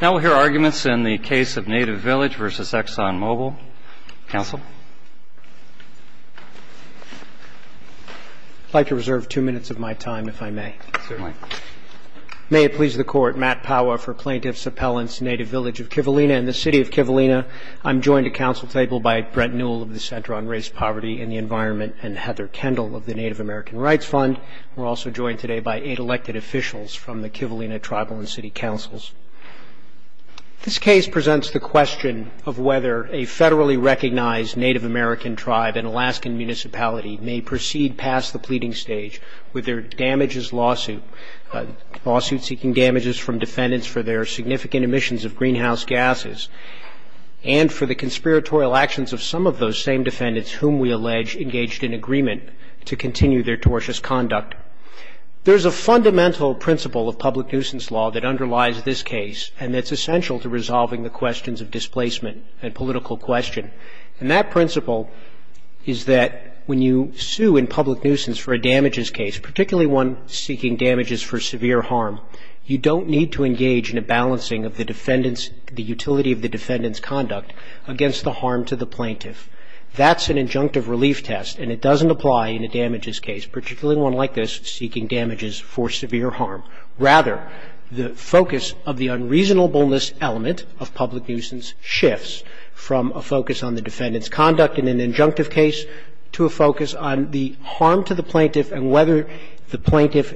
Now we'll hear arguments in the case of Native Village v. ExxonMobil. Council? I'd like to reserve two minutes of my time, if I may. Certainly. May it please the Court, Matt Powa for Plaintiff's Appellant's Native Village of Kivalina and the City of Kivalina. I'm joined at council table by Brent Newell of the Center on Race, Poverty, and the Environment and Heather Kendall of the Native American Rights Fund. We're also joined today by eight elected officials from the Kivalina Tribal and City Councils. This case presents the question of whether a federally recognized Native American tribe and Alaskan municipality may proceed past the pleading stage with their damages lawsuit, lawsuit seeking damages from defendants for their significant emissions of greenhouse gases and for the conspiratorial actions of some of those same defendants whom we allege engaged in agreement to continue their tortious conduct. There's a fundamental principle of public nuisance law that underlies this case and that's essential to resolving the questions of displacement and political question. And that principle is that when you sue in public nuisance for a damages case, particularly one seeking damages for severe harm, you don't need to engage in a balancing of the utility of the defendant's conduct against the harm to the plaintiff. That's an injunctive relief test and it doesn't apply in a damages case, particularly one like this seeking damages for severe harm. Rather, the focus of the unreasonableness element of public nuisance shifts from a focus on the defendant's conduct in an injunctive case to a focus on the harm to the plaintiff and whether the plaintiff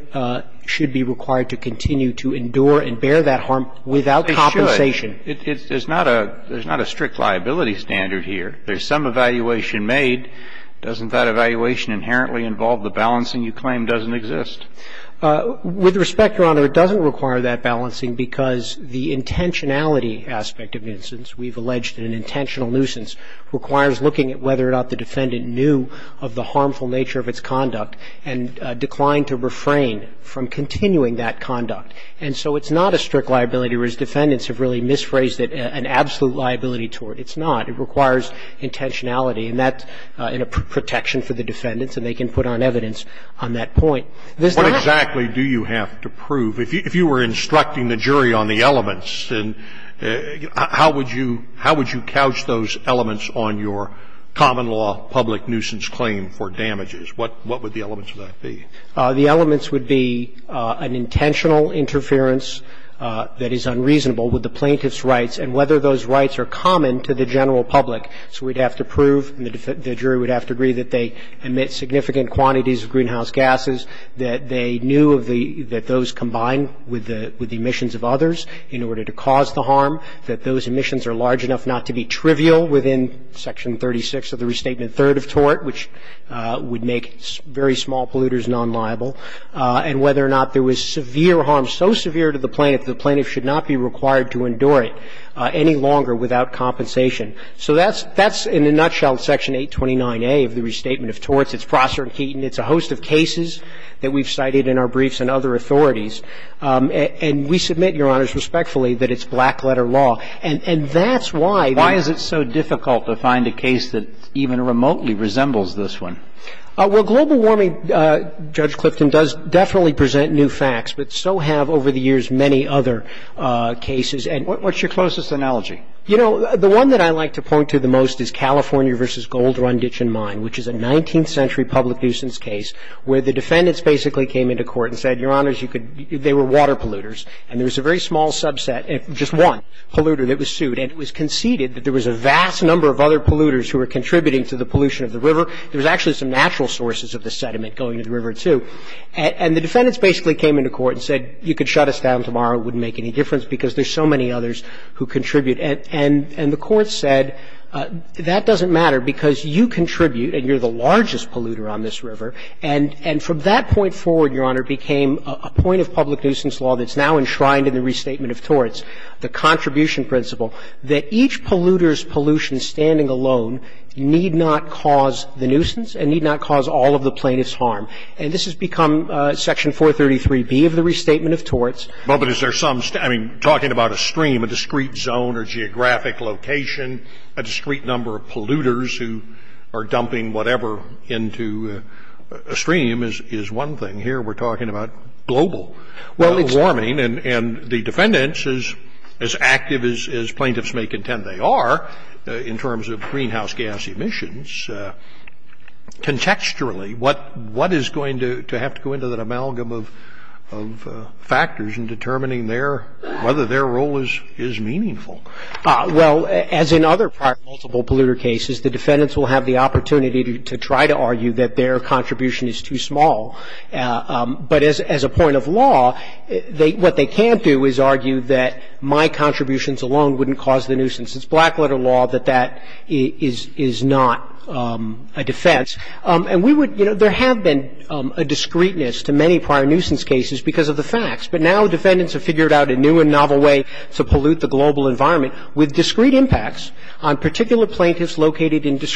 should be required to continue to endure and bear that harm without compensation. It's not a, there's not a strict liability standard here. There's some evaluation made. Doesn't that evaluation inherently involve the balancing you claim doesn't exist? With respect, Your Honor, it doesn't require that balancing because the intentionality aspect of nuisance, we've alleged an intentional nuisance, requires looking at whether or not the defendant knew of the harmful nature of its conduct and declined to refrain from continuing that conduct. And so it's not a strict liability, whereas defendants have really misphrased it, an absolute liability to it. It's not. It requires intentionality and that, and a protection for the defendants, and they can put on evidence on that point. This does not. What exactly do you have to prove? If you were instructing the jury on the elements, then how would you, how would you couch those elements on your common law public nuisance claim for damages? What would the elements of that be? The elements would be an intentional interference that is unreasonable with the plaintiff's rights and whether those rights are common to the general public. So we'd have to prove, and the jury would have to agree, that they emit significant quantities of greenhouse gases, that they knew of the, that those combine with the emissions of others in order to cause the harm, that those emissions are large enough not to be trivial within Section 36 of the Restatement Third of Tort, which would make very small polluters non-liable, and whether or not there was severe harm, so severe to the plaintiff, the plaintiff should not be required to endure it any longer without compensation. So that's, that's in a nutshell Section 829A of the Restatement of Torts. It's Prosser and Keaton. It's a host of cases that we've cited in our briefs and other authorities. And we submit, Your Honors, respectfully, that it's black-letter law. And that's why the ---- Well, global warming, Judge Clifton, does definitely present new facts, but so have over the years many other cases. And ---- What's your closest analogy? You know, the one that I like to point to the most is California v. Gold, Run, Ditch and Mine, which is a 19th century public nuisance case where the defendants basically came into court and said, Your Honors, you could, they were water polluters and there was a very small subset, just one polluter that was sued, and it was conceded that there was a vast number of other polluters who were contributing to the pollution of the river. There was actually some natural sources of the sediment going to the river, too. And the defendants basically came into court and said, you could shut us down tomorrow. It wouldn't make any difference because there's so many others who contribute. And the court said, that doesn't matter because you contribute and you're the largest polluter on this river, and from that point forward, Your Honor, became a point of public nuisance law that's now enshrined in the Restatement of Torts, the contribution principle, that each polluter's pollution standing alone need not cause the nuisance and need not cause all of the plaintiff's harm. And this has become Section 433B of the Restatement of Torts. Scalia. Well, but is there some, I mean, talking about a stream, a discrete zone or geographic location, a discrete number of polluters who are dumping whatever into a stream is one thing. Here we're talking about global warming. And the defendants, as active as plaintiffs may contend they are in terms of greenhouse gas emissions, contextually, what is going to have to go into that amalgam of factors in determining whether their role is meaningful? Well, as in other prior multiple polluter cases, the defendants will have the opportunity to try to argue that their contribution is too small. But as a point of law, what they can't do is argue that my contributions alone wouldn't cause the nuisance. It's black-letter law that that is not a defense. And we would, you know, there have been a discreteness to many prior nuisance cases because of the facts. But now defendants have figured out a new and novel way to pollute the global environment with discrete impacts on particular plaintiffs located in discrete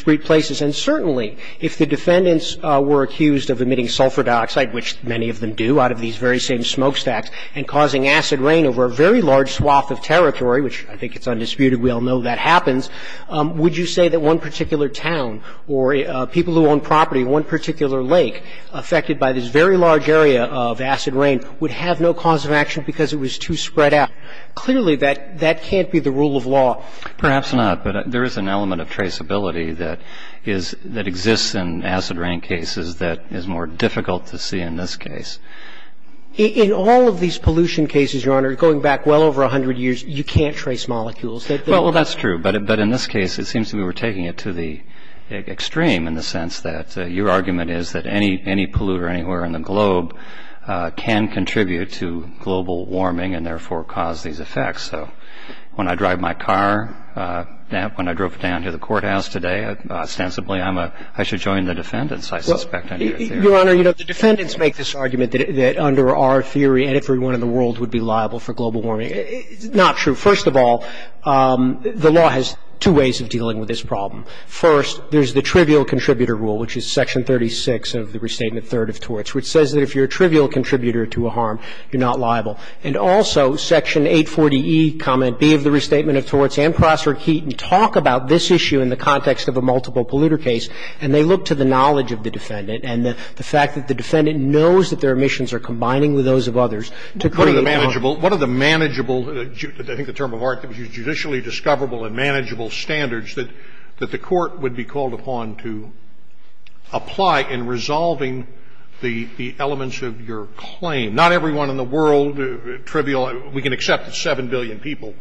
of them do out of these very same smokestacks and causing acid rain over a very large swath of territory, which I think is undisputed. We all know that happens. Would you say that one particular town or people who own property in one particular lake affected by this very large area of acid rain would have no cause of action because it was too spread out? Clearly that can't be the rule of law. Perhaps not, but there is an element of traceability that exists in acid rain cases that is more difficult to see in this case. In all of these pollution cases, Your Honor, going back well over 100 years, you can't trace molecules. Well, that's true. But in this case, it seems we were taking it to the extreme in the sense that your argument is that any polluter anywhere in the globe can contribute to global warming and therefore cause these effects. So when I drive my car, when I drove down to the courthouse today, ostensibly I should join the defendants, I suspect, under your theory. Your Honor, you know, the defendants make this argument that under our theory everyone in the world would be liable for global warming. It's not true. First of all, the law has two ways of dealing with this problem. First, there's the Trivial Contributor Rule, which is Section 36 of the Restatement Third of Torts, which says that if you're a trivial contributor to a harm, you're not liable. And also Section 840E, Comment B of the Restatement of Torts and Crosser and Keaton talk about this issue in the context of a multiple polluter case, and they look to the knowledge of the defendant and the fact that the defendant knows that their omissions are combining with those of others to create harm. Scalia. What are the manageable, I think the term of art, judicially discoverable and manageable standards that the Court would be called upon to apply in resolving the elements of your claim? Not everyone in the world, trivial, we can accept that 7 billion people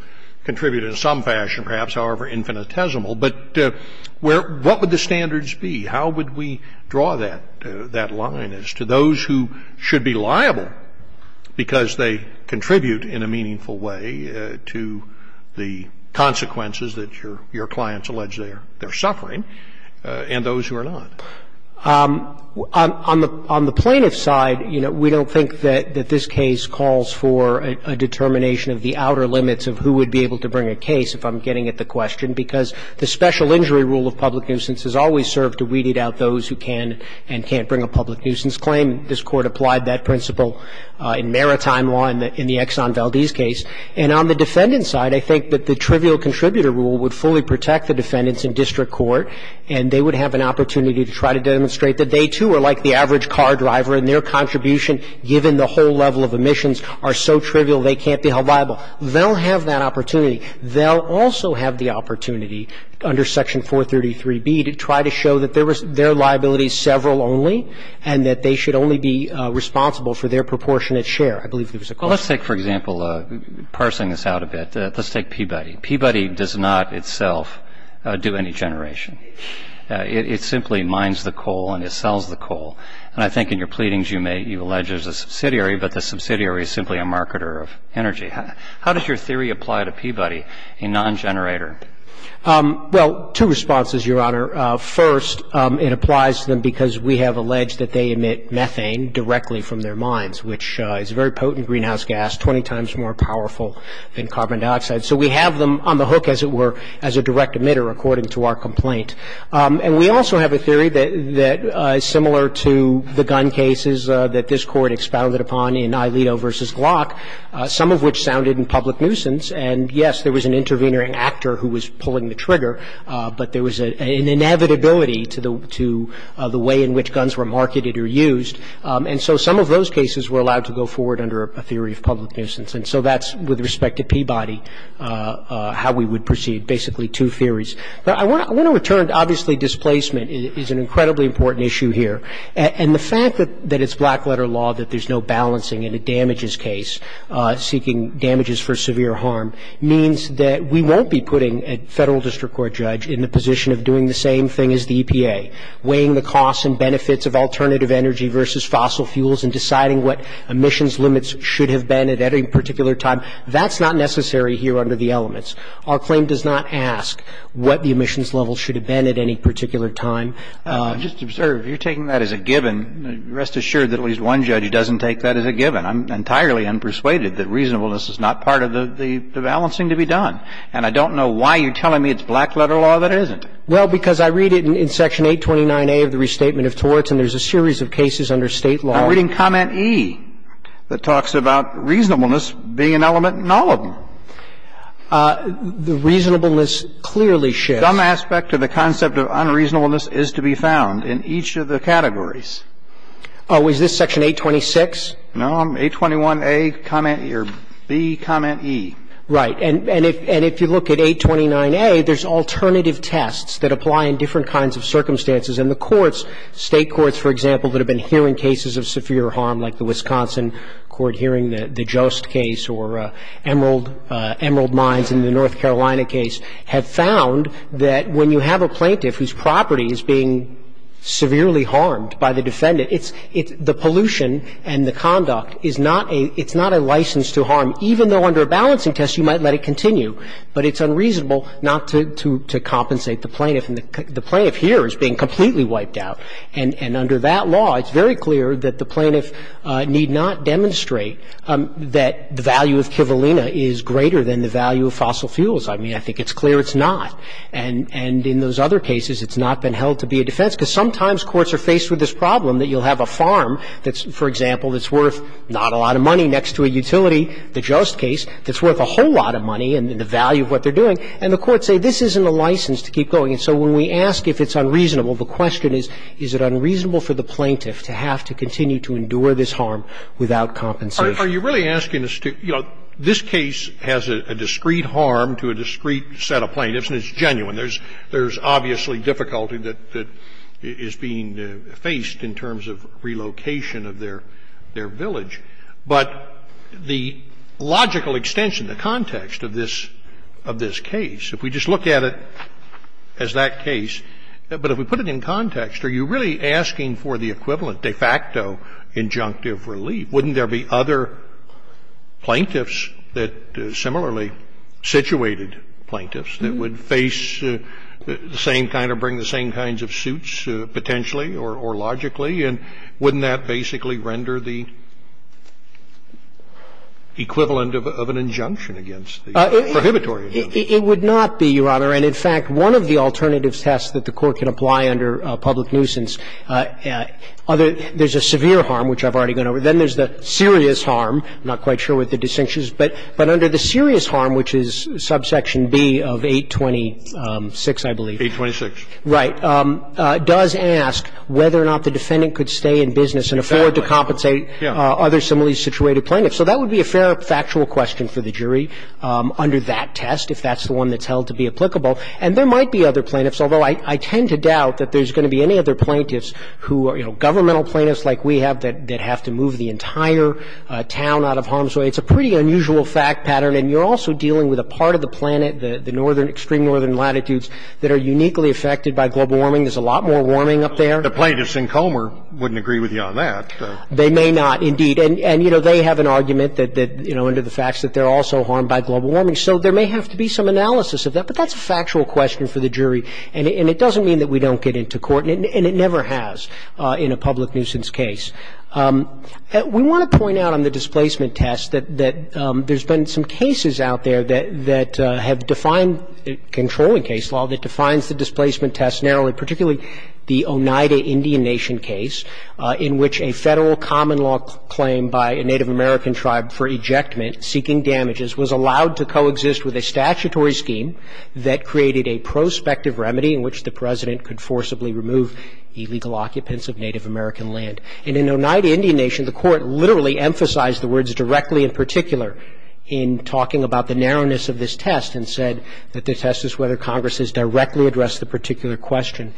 contribute in some fashion, perhaps, however infinitesimal, but what would the standards be? How would we draw that line as to those who should be liable because they contribute in a meaningful way to the consequences that your clients allege they're suffering and those who are not? On the plaintiff's side, you know, we don't think that this case calls for a determination of the outer limits of who would be able to bring a case, if I'm getting at the question, because the special injury rule of public nuisance has always served to weeded out those who can and can't bring a public nuisance claim. This Court applied that principle in maritime law in the Exxon Valdez case. And on the defendant's side, I think that the trivial contributor rule would fully protect the defendants in district court, and they would have an opportunity to try to demonstrate that they, too, are like the average car driver and their clients are liable. They'll have that opportunity. They'll also have the opportunity under Section 433B to try to show that their liability is several only and that they should only be responsible for their proportionate share. I believe there was a question. Well, let's take, for example, parsing this out a bit, let's take Peabody. Peabody does not itself do any generation. It simply mines the coal and it sells the coal. And I think in your pleadings you may you allege there's a subsidiary, but the subsidiary is simply a marketer of energy. How does your theory apply to Peabody, a non-generator? Well, two responses, Your Honor. First, it applies to them because we have alleged that they emit methane directly from their mines, which is a very potent greenhouse gas, 20 times more powerful than carbon dioxide. So we have them on the hook, as it were, as a direct emitter, according to our complaint. And we also have a theory that is similar to the gun cases that this Court expounded upon in Ailito v. Glock, some of which sounded in public nuisance. And, yes, there was an intervening actor who was pulling the trigger, but there was an inevitability to the way in which guns were marketed or used. And so some of those cases were allowed to go forward under a theory of public nuisance. And so that's, with respect to Peabody, how we would proceed, basically two theories. I want to return to, obviously, displacement is an incredibly important issue here. And the fact that it's black-letter law, that there's no balancing in a damages case, seeking damages for severe harm, means that we won't be putting a Federal District Court judge in the position of doing the same thing as the EPA, weighing the costs and benefits of alternative energy versus fossil fuels and deciding what emissions limits should have been at any particular time. That's not necessary here under the elements. Our claim does not ask what the emissions levels should have been at any particular time. I just observe you're taking that as a given. Rest assured that at least one judge doesn't take that as a given. I'm entirely unpersuaded that reasonableness is not part of the balancing to be done. And I don't know why you're telling me it's black-letter law that isn't. Well, because I read it in Section 829A of the Restatement of Torts, and there's a series of cases under State law. I'm reading comment E that talks about reasonableness being an element in all of them. The reasonableness clearly shifts. Some aspect of the concept of unreasonableness is to be found in each of the categories. Oh, is this Section 826? No. 821A, comment B, comment E. Right. And if you look at 829A, there's alternative tests that apply in different kinds of circumstances. And the courts, State courts, for example, that have been hearing cases of severe harm, like the Wisconsin court hearing the Jost case or Emerald Mines in the North Coast, that when you have a plaintiff whose property is being severely harmed by the defendant, it's the pollution and the conduct is not a license to harm, even though under a balancing test you might let it continue. But it's unreasonable not to compensate the plaintiff. And the plaintiff here is being completely wiped out. And under that law, it's very clear that the plaintiff need not demonstrate that the value of Kivalina is greater than the value of fossil fuels. I mean, I think it's clear it's not. And in those other cases, it's not been held to be a defense, because sometimes courts are faced with this problem that you'll have a farm that's, for example, that's worth not a lot of money next to a utility, the Jost case, that's worth a whole lot of money and the value of what they're doing. And the courts say this isn't a license to keep going. And so when we ask if it's unreasonable, the question is, is it unreasonable for the plaintiff to have to continue to endure this harm without compensation? Are you really asking us to, you know, this case has a discrete harm to a discrete set of plaintiffs, and it's genuine. There's obviously difficulty that is being faced in terms of relocation of their village. But the logical extension, the context of this case, if we just look at it as that case, but if we put it in context, are you really asking for the equivalent, de facto, injunctive relief? I mean, wouldn't there be other plaintiffs that similarly situated plaintiffs that would face the same kind or bring the same kinds of suits potentially or logically? And wouldn't that basically render the equivalent of an injunction against the prohibitory injunctive? It would not be, Your Honor. And in fact, one of the alternative tests that the Court can apply under public liability is to ask whether or not the defendant could stay in business and afford to compensate other similarly situated plaintiffs. So that would be a fair factual question for the jury under that test, if that's the one that's held to be applicable. And there might be other plaintiffs, although I tend to doubt that there's going to be other plaintiffs who are, you know, governmental plaintiffs like we have that have to move the entire town out of harm's way. It's a pretty unusual fact pattern. And you're also dealing with a part of the planet, the northern, extreme northern latitudes, that are uniquely affected by global warming. There's a lot more warming up there. The plaintiffs in Comer wouldn't agree with you on that. They may not, indeed. And, you know, they have an argument that, you know, under the facts that they're also harmed by global warming. So there may have to be some analysis of that. But that's a factual question for the jury. And it doesn't mean that we don't get into court, and it never has in a public nuisance case. We want to point out on the displacement test that there's been some cases out there that have defined controlling case law that defines the displacement test narrowly, particularly the Oneida Indian Nation case, in which a Federal common law claim by a Native American tribe for ejectment seeking damages was allowed to coexist with a statutory scheme that created a prospective remedy in which the President could forcibly remove illegal occupants of Native American land. And in Oneida Indian Nation, the Court literally emphasized the words directly and particularly in talking about the narrowness of this test and said that the test is whether Congress has directly addressed the particular question.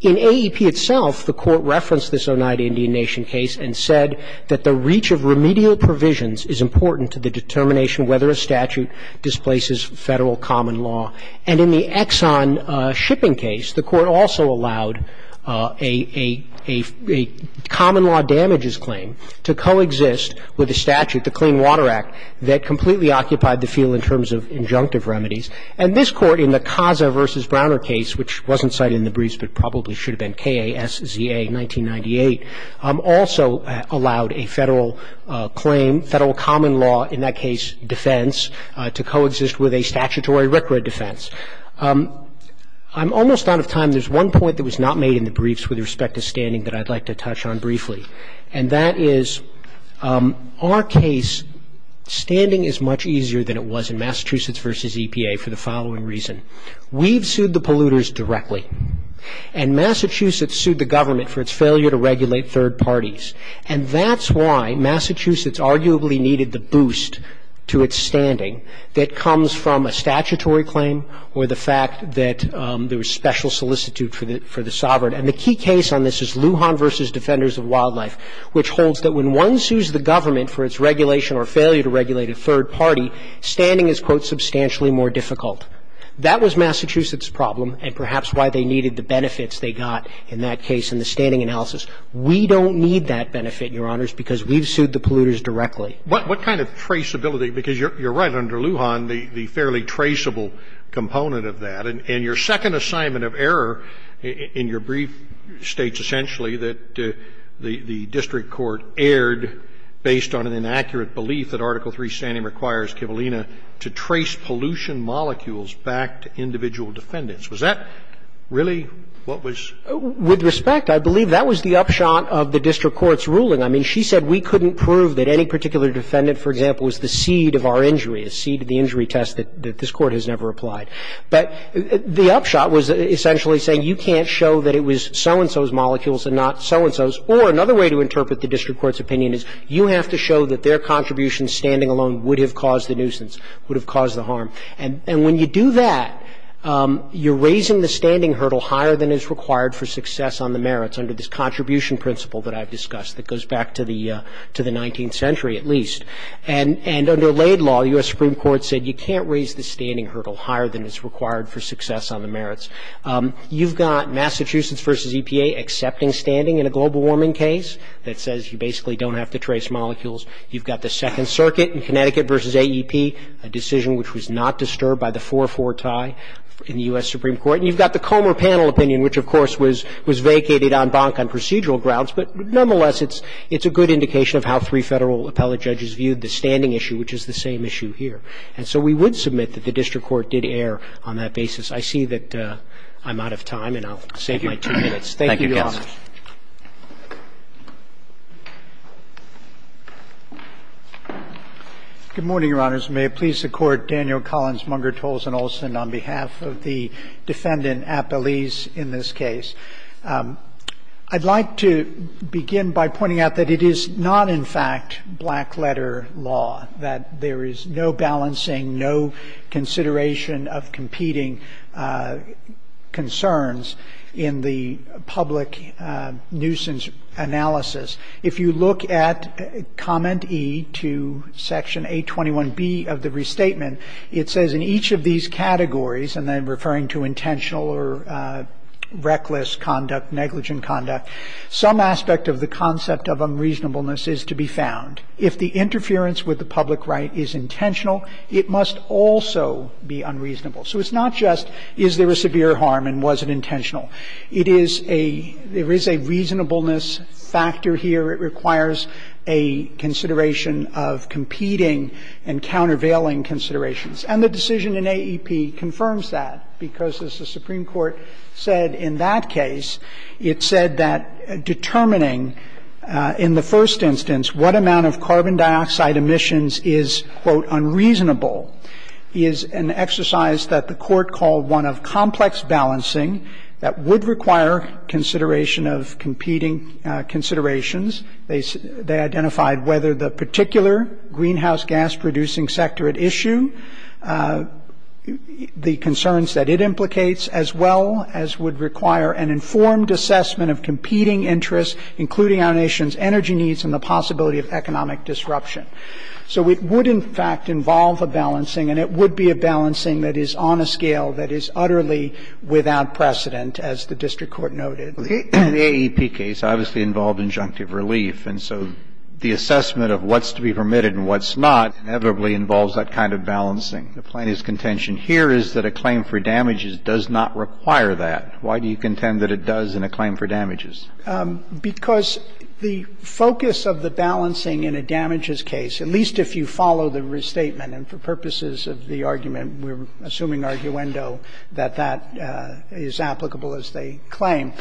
In AEP itself, the Court referenced this Oneida Indian Nation case and said that the reach of remedial provisions is important to the determination whether a statute that displaces Federal common law. And in the Exxon shipping case, the Court also allowed a common law damages claim to coexist with a statute, the Clean Water Act, that completely occupied the field in terms of injunctive remedies. And this Court in the Casa v. Browner case, which wasn't cited in the briefs but probably should have been KASZA 1998, also allowed a Federal claim, Federal common law, in that case defense, to coexist with a statutory RCRA defense. I'm almost out of time. There's one point that was not made in the briefs with respect to standing that I'd like to touch on briefly. And that is our case, standing is much easier than it was in Massachusetts v. EPA for the following reason. We've sued the polluters directly. And Massachusetts sued the government for its failure to regulate third parties. And that's why Massachusetts arguably needed the boost to its standing that comes from a statutory claim or the fact that there was special solicitude for the sovereign. And the key case on this is Lujan v. Defenders of Wildlife, which holds that when one sues the government for its regulation or failure to regulate a third party, standing is, quote, substantially more difficult. That was Massachusetts' problem and perhaps why they needed the benefits they got in that case in the standing analysis. We don't need that benefit, Your Honors, because we've sued the polluters directly. What kind of traceability? Because you're right, under Lujan, the fairly traceable component of that. And your second assignment of error in your brief states essentially that the district court erred based on an inaccurate belief that Article III standing requires Kivalina to trace pollution molecules back to individual defendants. Was that really what was ---- With respect, I believe that was the upshot of the district court's ruling. I mean, she said we couldn't prove that any particular defendant, for example, was the seed of our injury, a seed of the injury test that this court has never applied. But the upshot was essentially saying you can't show that it was so-and-so's molecules and not so-and-so's. Or another way to interpret the district court's opinion is you have to show that their contribution standing alone would have caused the nuisance, would have caused the harm. And when you do that, you're raising the standing hurdle higher than is required for success on the merits under this contribution principle that I've discussed that goes back to the 19th century at least. And under Laid Law, U.S. Supreme Court said you can't raise the standing hurdle higher than is required for success on the merits. You've got Massachusetts v. EPA accepting standing in a global warming case that says you basically don't have to trace molecules. You've got the Second Circuit in Connecticut v. AEP, a decision which was not disturbed by the 4-4 tie in the U.S. Supreme Court. And you've got the Comer Panel opinion, which, of course, was vacated en banc on procedural grounds. But nonetheless, it's a good indication of how three Federal appellate judges viewed the standing issue, which is the same issue here. And so we would submit that the district court did err on that basis. I see that I'm out of time, and I'll save my two minutes. Thank you, Your Honor. Good morning, Your Honors. May it please the Court, Daniel Collins, Munger, Tolson, Olson, on behalf of the defendant, Appellese, in this case. I'd like to begin by pointing out that it is not, in fact, black letter law, that there is no balancing, no consideration of competing concerns in the public right. For example, the public right is a very important element in any nuisance analysis. If you look at Comment E to Section 821B of the Restatement, it says, in each of these categories, and I'm referring to intentional or reckless conduct, negligent conduct, some aspect of the concept of unreasonableness is to be found. If the interference with the public right is intentional, it must also be unreasonable. So it's not just is there a severe harm and was it intentional. It is a – there is a reasonableness factor here. It requires a consideration of competing and countervailing considerations. And the decision in AEP confirms that because, as the Supreme Court said in that case, it said that determining in the first instance what amount of carbon dioxide emissions is, quote, unreasonable is an exercise that the court called one of complex balancing that would require consideration of competing considerations. They identified whether the particular greenhouse gas producing sector at issue, the concerns that it implicates, as well as would require an informed assessment of competing interests, including our nation's energy needs and the possibility of economic disruption. So it would, in fact, involve a balancing, and it would be a balancing that is on a scale that is utterly without precedent, as the district court noted. The AEP case obviously involved injunctive relief, and so the assessment of what's to be permitted and what's not inevitably involves that kind of balancing. The plaintiff's contention here is that a claim for damages does not require that. Why do you contend that it does in a claim for damages? Because the focus of the balancing in a damages case, at least if you follow the restatement and for purposes of the argument, we're assuming arguendo, that that is applicable as they claim,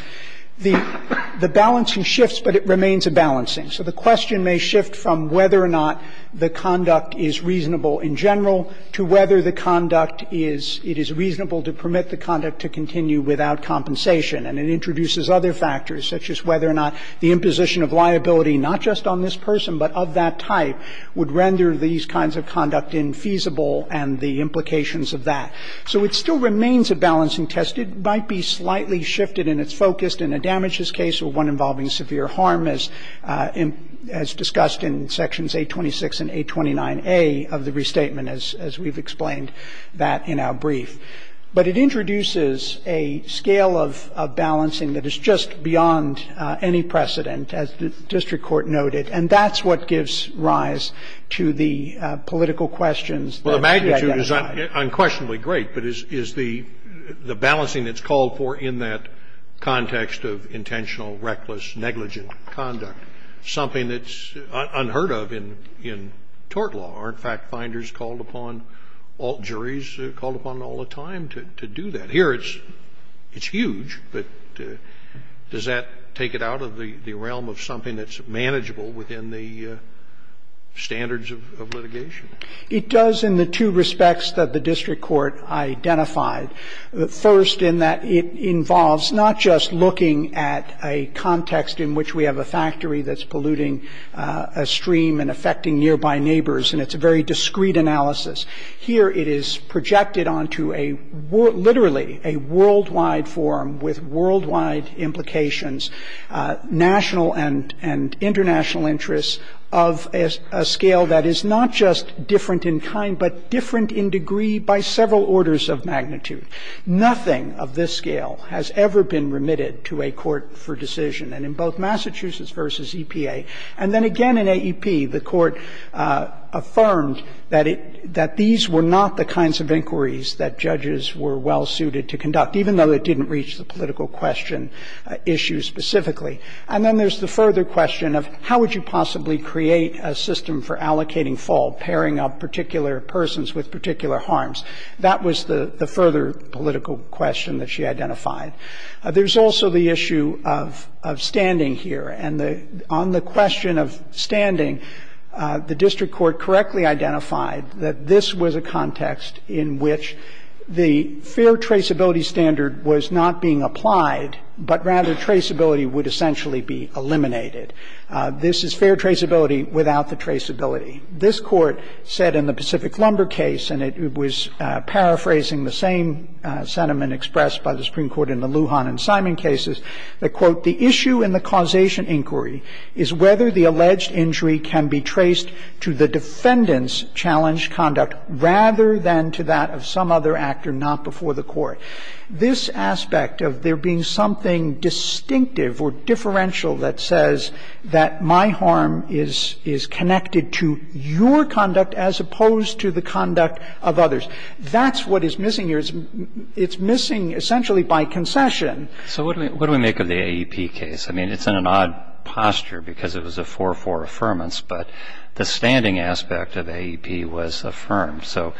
the balancing shifts, but it remains a balancing. So the question may shift from whether or not the conduct is reasonable in general to whether the conduct is, it is reasonable to permit the conduct to continue without compensation. And it introduces other factors, such as whether or not the imposition of liability not just on this person, but of that type, would render these kinds of conduct infeasible and the implications of that. So it still remains a balancing test. It might be slightly shifted and it's focused in a damages case or one involving severe harm as discussed in Sections 826 and 829A of the restatement, as we've explained that in our brief. But it introduces a scale of balancing that is just beyond any precedent, as the district court noted, and that's what gives rise to the political questions. Well, the magnitude is unquestionably great, but is the balancing that's called for in that context of intentional, reckless, negligent conduct something that's unheard of in tort law? Are, in fact, finders called upon, alt juries called upon all the time to do that? Here it's huge, but does that take it out of the realm of something that's manageable within the standards of litigation? It does in the two respects that the district court identified. The first in that it involves not just looking at a context in which we have a factory that's polluting a stream and affecting nearby neighbors, and it's a very discreet analysis. Here it is projected onto a literally a worldwide forum with worldwide implications, national and international interests, of a scale that is not just different in kind but different in degree by several orders of magnitude. Nothing of this scale has ever been remitted to a court for decision. And in both Massachusetts v. EPA, and then again in AEP, the Court affirmed that it – that these were not the kinds of inquiries that judges were well suited to conduct, even though it didn't reach the political question issue specifically. And then there's the further question of how would you possibly create a system for allocating fault, pairing up particular persons with particular harms. That was the further political question that she identified. There's also the issue of standing here. And on the question of standing, the district court correctly identified that this was a context in which the fair traceability standard was not being applied, but rather traceability would essentially be eliminated. This is fair traceability without the traceability. This Court said in the Pacific Lumber case, and it was paraphrasing the same sentiment expressed by the Supreme Court in the Lujan and Simon cases, that, quote, the issue in the causation inquiry is whether the alleged injury can be traced to the defendant's challenged conduct rather than to that of some other actor not before the court. This aspect of there being something distinctive or differential that says that my harm is connected to your conduct as opposed to the conduct of others, that's what is missing here. It's missing essentially by concession. So what do we make of the AEP case? I mean, it's in an odd posture because it was a 4-4 affirmance, but the standing aspect of AEP was affirmed. So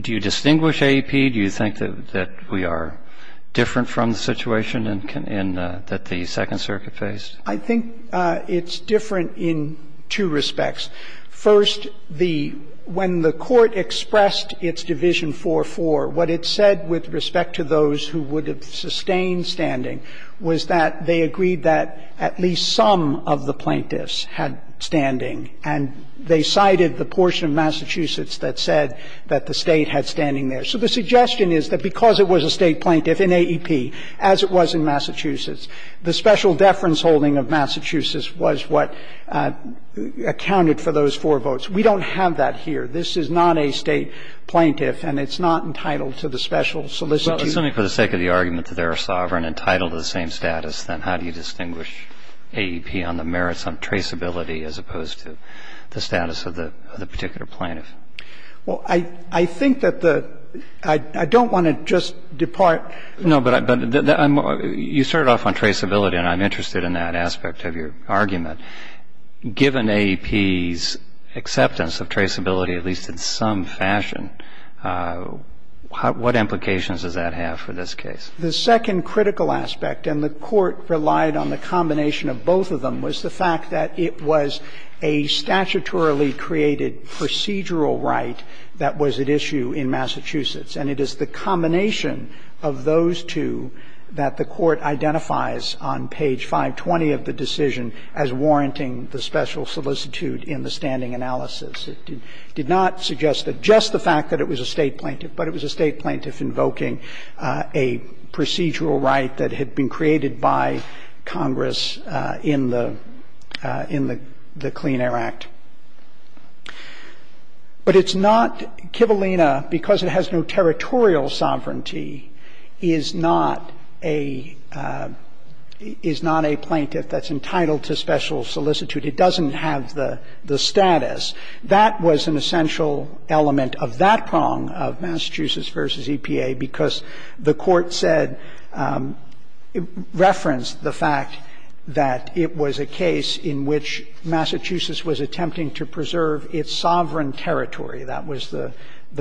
do you distinguish AEP? Do you think that we are different from the situation that the Second Circuit faced? I think it's different in two respects. First, the – when the Court expressed its division 4-4, what it said with respect to those who would have sustained standing was that they agreed that at least some of the plaintiffs had standing, and they cited the portion of Massachusetts that said that the State had standing there. So the suggestion is that because it was a State plaintiff in AEP, as it was in Massachusetts, the special deference holding of Massachusetts was what accounted for those four votes. We don't have that here. This is not a State plaintiff, and it's not entitled to the special solicitude. Well, assuming for the sake of the argument that they are sovereign and entitled to the same status, then how do you distinguish AEP on the merits on traceability as opposed to the status of the particular plaintiff? Well, I think that the – I don't want to just depart. No, but I'm – you started off on traceability, and I'm interested in that aspect of your argument. Given AEP's acceptance of traceability, at least in some fashion, what implications does that have for this case? The second critical aspect, and the Court relied on the combination of both of them, was the fact that it was a statutorily created procedural right that was at issue in Massachusetts, and it is the combination of those two that the Court identifies on page 520 of the decision as warranting the special solicitude in the standing analysis. It did not suggest that just the fact that it was a State plaintiff, but it was a State plaintiff, it was a State plaintiff, is not a claim to a procedural right that had been created by Congress in the – in the Clean Air Act. But it's not – Kivalina, because it has no territorial sovereignty, is not a – is not a plaintiff that's entitled to special solicitude. It doesn't have the status. That was an essential element of that prong of Massachusetts v. EPA because the Court said – referenced the fact that it was a case in which Massachusetts was attempting to preserve its sovereign territory. That was the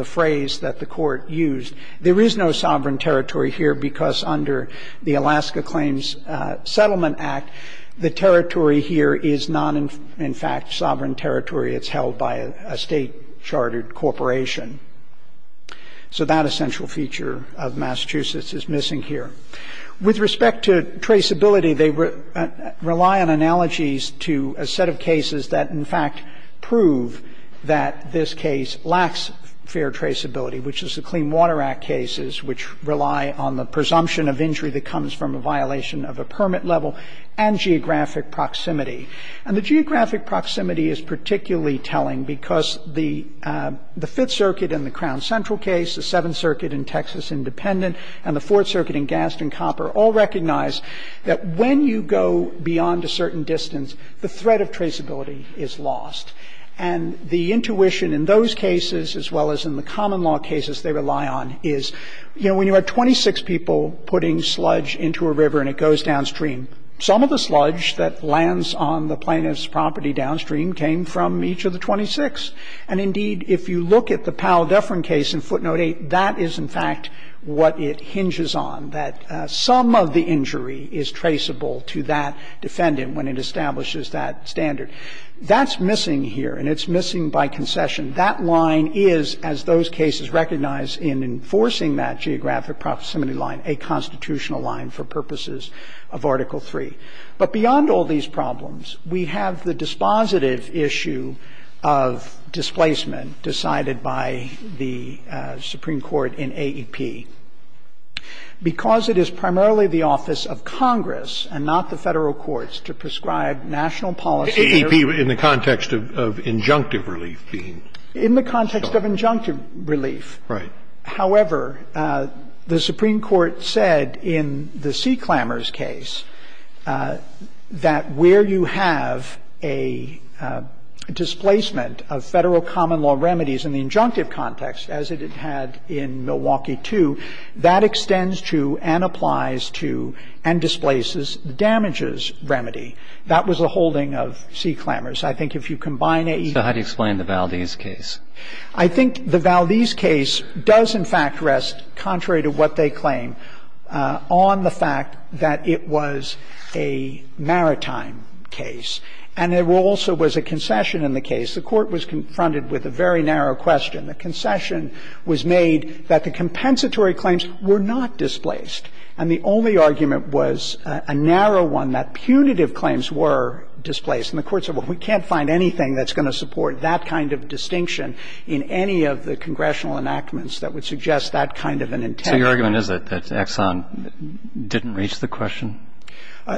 phrase that the Court used. There is no sovereign territory here because under the Alaska Claims Settlement Act, the territory here is not, in fact, sovereign territory. It's held by a State-chartered corporation. So that essential feature of Massachusetts is missing here. With respect to traceability, they rely on analogies to a set of cases that, in fact, prove that this case lacks fair traceability, which is the Clean Water Act cases, which rely on the presumption of injury that comes from a violation of a permit level and geographic proximity. And the geographic proximity is particularly telling because the Fifth Circuit in the Crown Central case, the Seventh Circuit in Texas Independent, and the Fourth Circuit in Gaston Copper all recognize that when you go beyond a certain distance, the threat of traceability is lost. And the intuition in those cases, as well as in the common law cases they rely on, is, you know, when you have 26 people putting sludge into a river and it goes downstream, some of the sludge that lands on the plaintiff's property downstream came from each of the 26. And indeed, if you look at the Powell-Dufferin case in Footnote 8, that is, in fact, what it hinges on, that some of the injury is traceable to that defendant when it establishes that standard. That's missing here, and it's missing by concession. That line is, as those cases recognize in enforcing that geographic proximity line, a constitutional line for purposes of Article III. But beyond all these problems, we have the dispositive issue of displacement decided by the Supreme Court in AEP because it is primarily the office of Congress and not the Federal courts to prescribe national policy. Scalia, in the context of injunctive relief being. In the context of injunctive relief. Right. However, the Supreme Court said in the Sea Clamors case that where you have a displacement of Federal common law remedies in the injunctive context, as it had in Milwaukee 2, that extends to and applies to and displaces damages remedy. That was a holding of Sea Clamors. I think if you combine AEP. So how do you explain the Valdez case? I think the Valdez case does, in fact, rest, contrary to what they claim, on the fact that it was a maritime case, and there also was a concession in the case. The Court was confronted with a very narrow question. The concession was made that the compensatory claims were not displaced. And the only argument was a narrow one, that punitive claims were displaced. And the Court said, well, we can't find anything that's going to support that kind of distinction in any of the congressional enactments that would suggest that kind of an intent. So your argument is that Exxon didn't reach the question?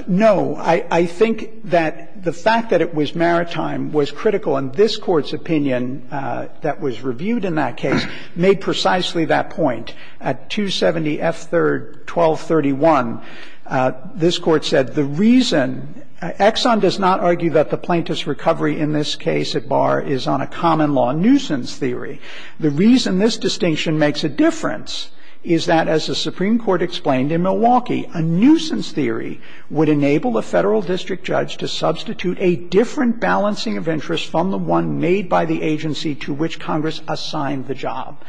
No. I think that the fact that it was maritime was critical. And this Court's opinion that was reviewed in that case made precisely that point. At 270 F. 3rd, 1231, this Court said the reason Exxon does not argue that the plaintiff's recovery in this case at bar is on a common-law nuisance theory. The reason this distinction makes a difference is that, as the Supreme Court explained in Milwaukee, a nuisance theory would enable a Federal district judge to substitute a different balancing of interests from the one made by the agency to which Congress assigned the job.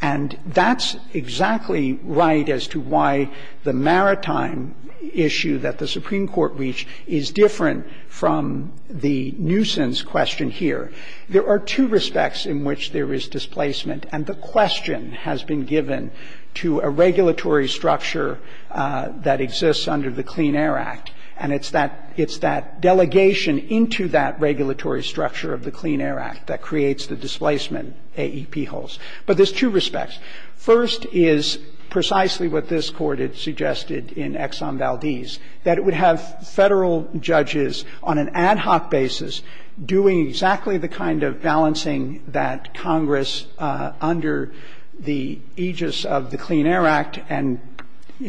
And that's exactly right as to why the maritime issue that the Supreme Court reached is different from the nuisance question here. There are two respects in which there is displacement, and the question has been given to a regulatory structure that exists under the Clean Air Act. And it's that delegation into that regulatory structure of the Clean Air Act that makes the difference. So there's two respects. First is precisely what this Court had suggested in Exxon Valdez, that it would have Federal judges on an ad hoc basis doing exactly the kind of balancing that Congress, under the aegis of the Clean Air Act and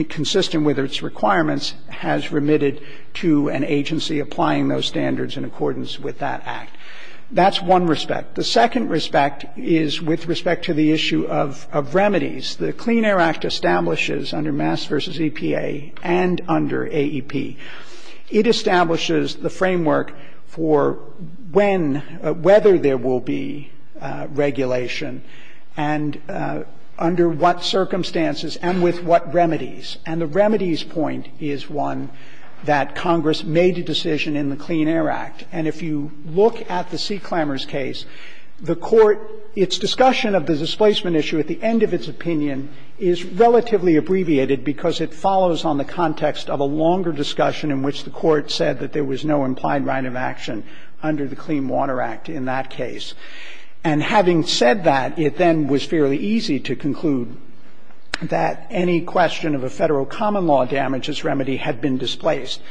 consistent with its requirements, has remitted to an agency applying those standards in accordance with that act. That's one respect. The second respect is with respect to the issue of remedies. The Clean Air Act establishes, under Mass v. EPA and under AEP, it establishes the framework for when, whether there will be regulation and under what circumstances and with what remedies. And the remedies point is one that Congress made a decision in the Clean Air Act. And if you look at the Sea Clambers case, the Court, its discussion of the displacement issue at the end of its opinion is relatively abbreviated because it follows on the context of a longer discussion in which the Court said that there was no implied right of action under the Clean Water Act in that case. And having said that, it then was fairly easy to conclude that any question of a Federal common law damages remedy had been displaced.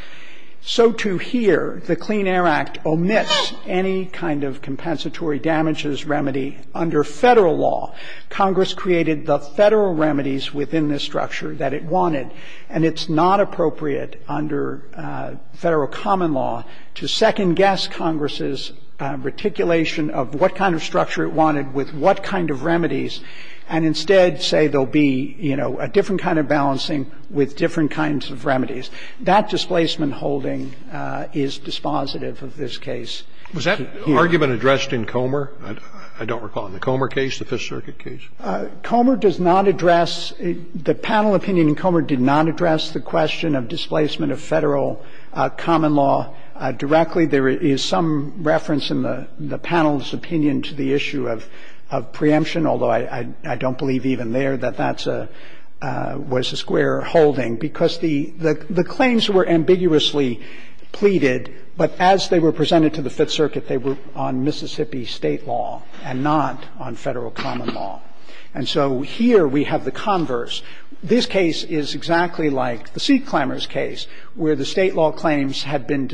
So to here, the Clean Air Act omits any kind of compensatory damages remedy under Federal law. Congress created the Federal remedies within this structure that it wanted, and it's not appropriate under Federal common law to second-guess Congress's reticulation of what kind of structure it wanted with what kind of remedies and instead say there will be, you know, a different kind of balancing with different kinds of remedies. That displacement holding is dispositive of this case. Was that argument addressed in Comer? I don't recall. In the Comer case, the Fifth Circuit case? Comer does not address the panel opinion in Comer did not address the question of displacement of Federal common law directly. There is some reference in the panel's opinion to the issue of preemption, although I don't believe even there that that's a – was a square holding, because the claims were ambiguously pleaded, but as they were presented to the Fifth Circuit, they were on Mississippi State law and not on Federal common law. And so here we have the converse. This case is exactly like the Sea Climbers case, where the State law claims had been in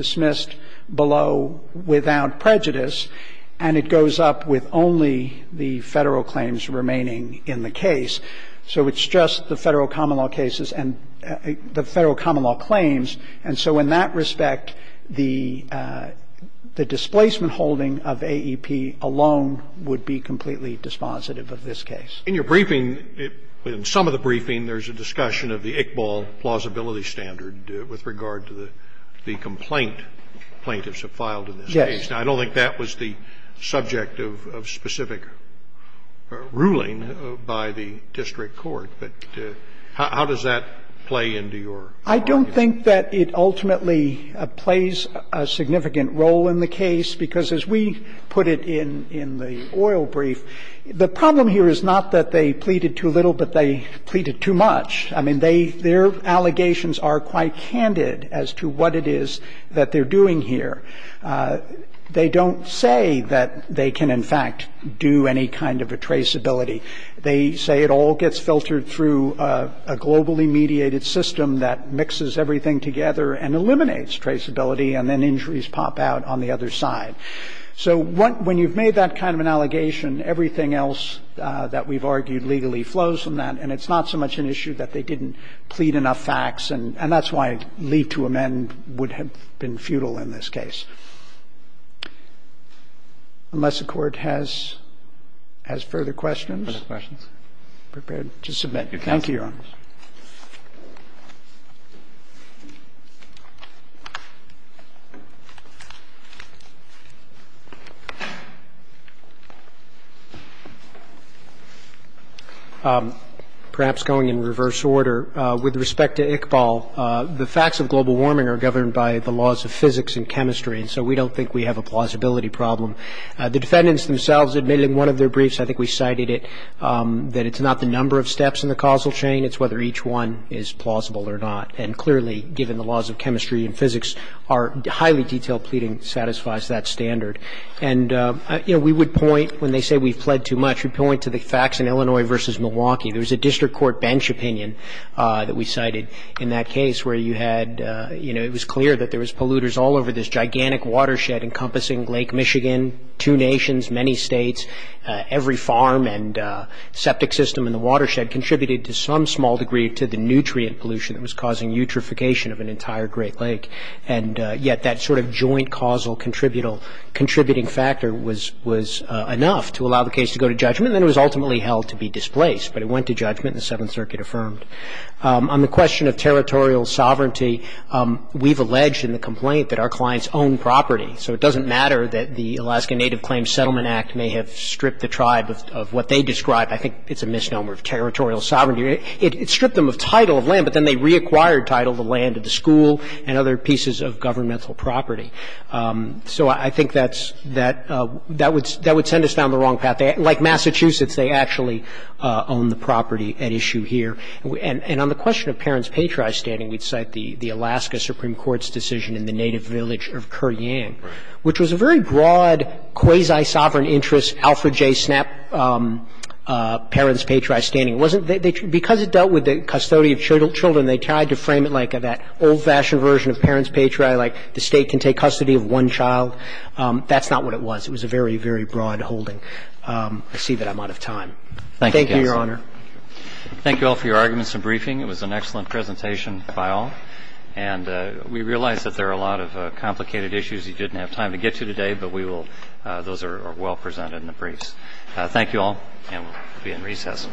the case. So it's just the Federal common law cases and the Federal common law claims. And so in that respect, the displacement holding of AEP alone would be completely dispositive of this case. In your briefing, in some of the briefing, there's a discussion of the Iqbal plausibility standard with regard to the complaint plaintiffs have filed in this case. Yes. I don't think that was the subject of specific ruling by the district court, but how does that play into your argument? I don't think that it ultimately plays a significant role in the case, because as we put it in the oil brief, the problem here is not that they pleaded too little, but they pleaded too much. I mean, their allegations are quite candid as to what it is that they're doing here. They don't say that they can, in fact, do any kind of a traceability. They say it all gets filtered through a globally mediated system that mixes everything together and eliminates traceability, and then injuries pop out on the other side. So when you've made that kind of an allegation, everything else that we've argued legally flows from that, and it's not so much an issue that they didn't plead enough facts, and that's why leave to amend would have been futile in this case. Unless the Court has further questions. Further questions? Thank you, Your Honors. Perhaps going in reverse order, with respect to Iqbal, the facts of global warming are governed by the laws of physics and chemistry, and so we don't think we have a plausibility problem. The defendants themselves admitted in one of their briefs, I think we cited it, that it's not the number of steps in the causal chain, it's whether each one is plausible or not. And clearly, given the laws of chemistry and physics, our highly detailed pleading satisfies that standard. And, you know, we would point, when they say we've pled too much, we point to the facts in Illinois versus Milwaukee. There was a district court bench opinion that we cited in that case where you had, you know, it was clear that there was polluters all over this gigantic watershed encompassing Lake Michigan, two nations, many states, every farm and septic system in the watershed contributed to some small degree to the nutrient pollution that was causing eutrophication of an entire Great Lake. And yet that sort of joint causal contributing factor was enough to allow the case to go to judgment, and then it was ultimately held to be displaced. But it went to judgment and the Seventh Circuit affirmed. On the question of territorial sovereignty, we've alleged in the complaint that our clients owned property. So it doesn't matter that the Alaska Native Claims Settlement Act may have stripped the tribe of what they described. I think it's a misnomer of territorial sovereignty. It stripped them of title of land, but then they reacquired title of the land, of the school, and other pieces of governmental property. So I think that's that would send us down the wrong path. Like Massachusetts, they actually owned the property at issue here. And on the question of parents' patriotic standing, we'd cite the Alaska Supreme Court's decision in the native village of Kuryang, which was a very broad quasi-sovereign interest, Alfred J. Snap, parents' patriotic standing. It wasn't they – because it dealt with the custody of children, they tried to frame it like that old-fashioned version of parents' patriotic, like the State can take custody of one child. That's not what it was. It was a very, very broad holding. I see that I'm out of time. Thank you, Your Honor. Thank you, counsel. Thank you all for your arguments and briefing. It was an excellent presentation by all. And we realize that there are a lot of complicated issues you didn't have time to get to today, but we will – those are well presented in the briefs. Thank you all, and we'll be in recess.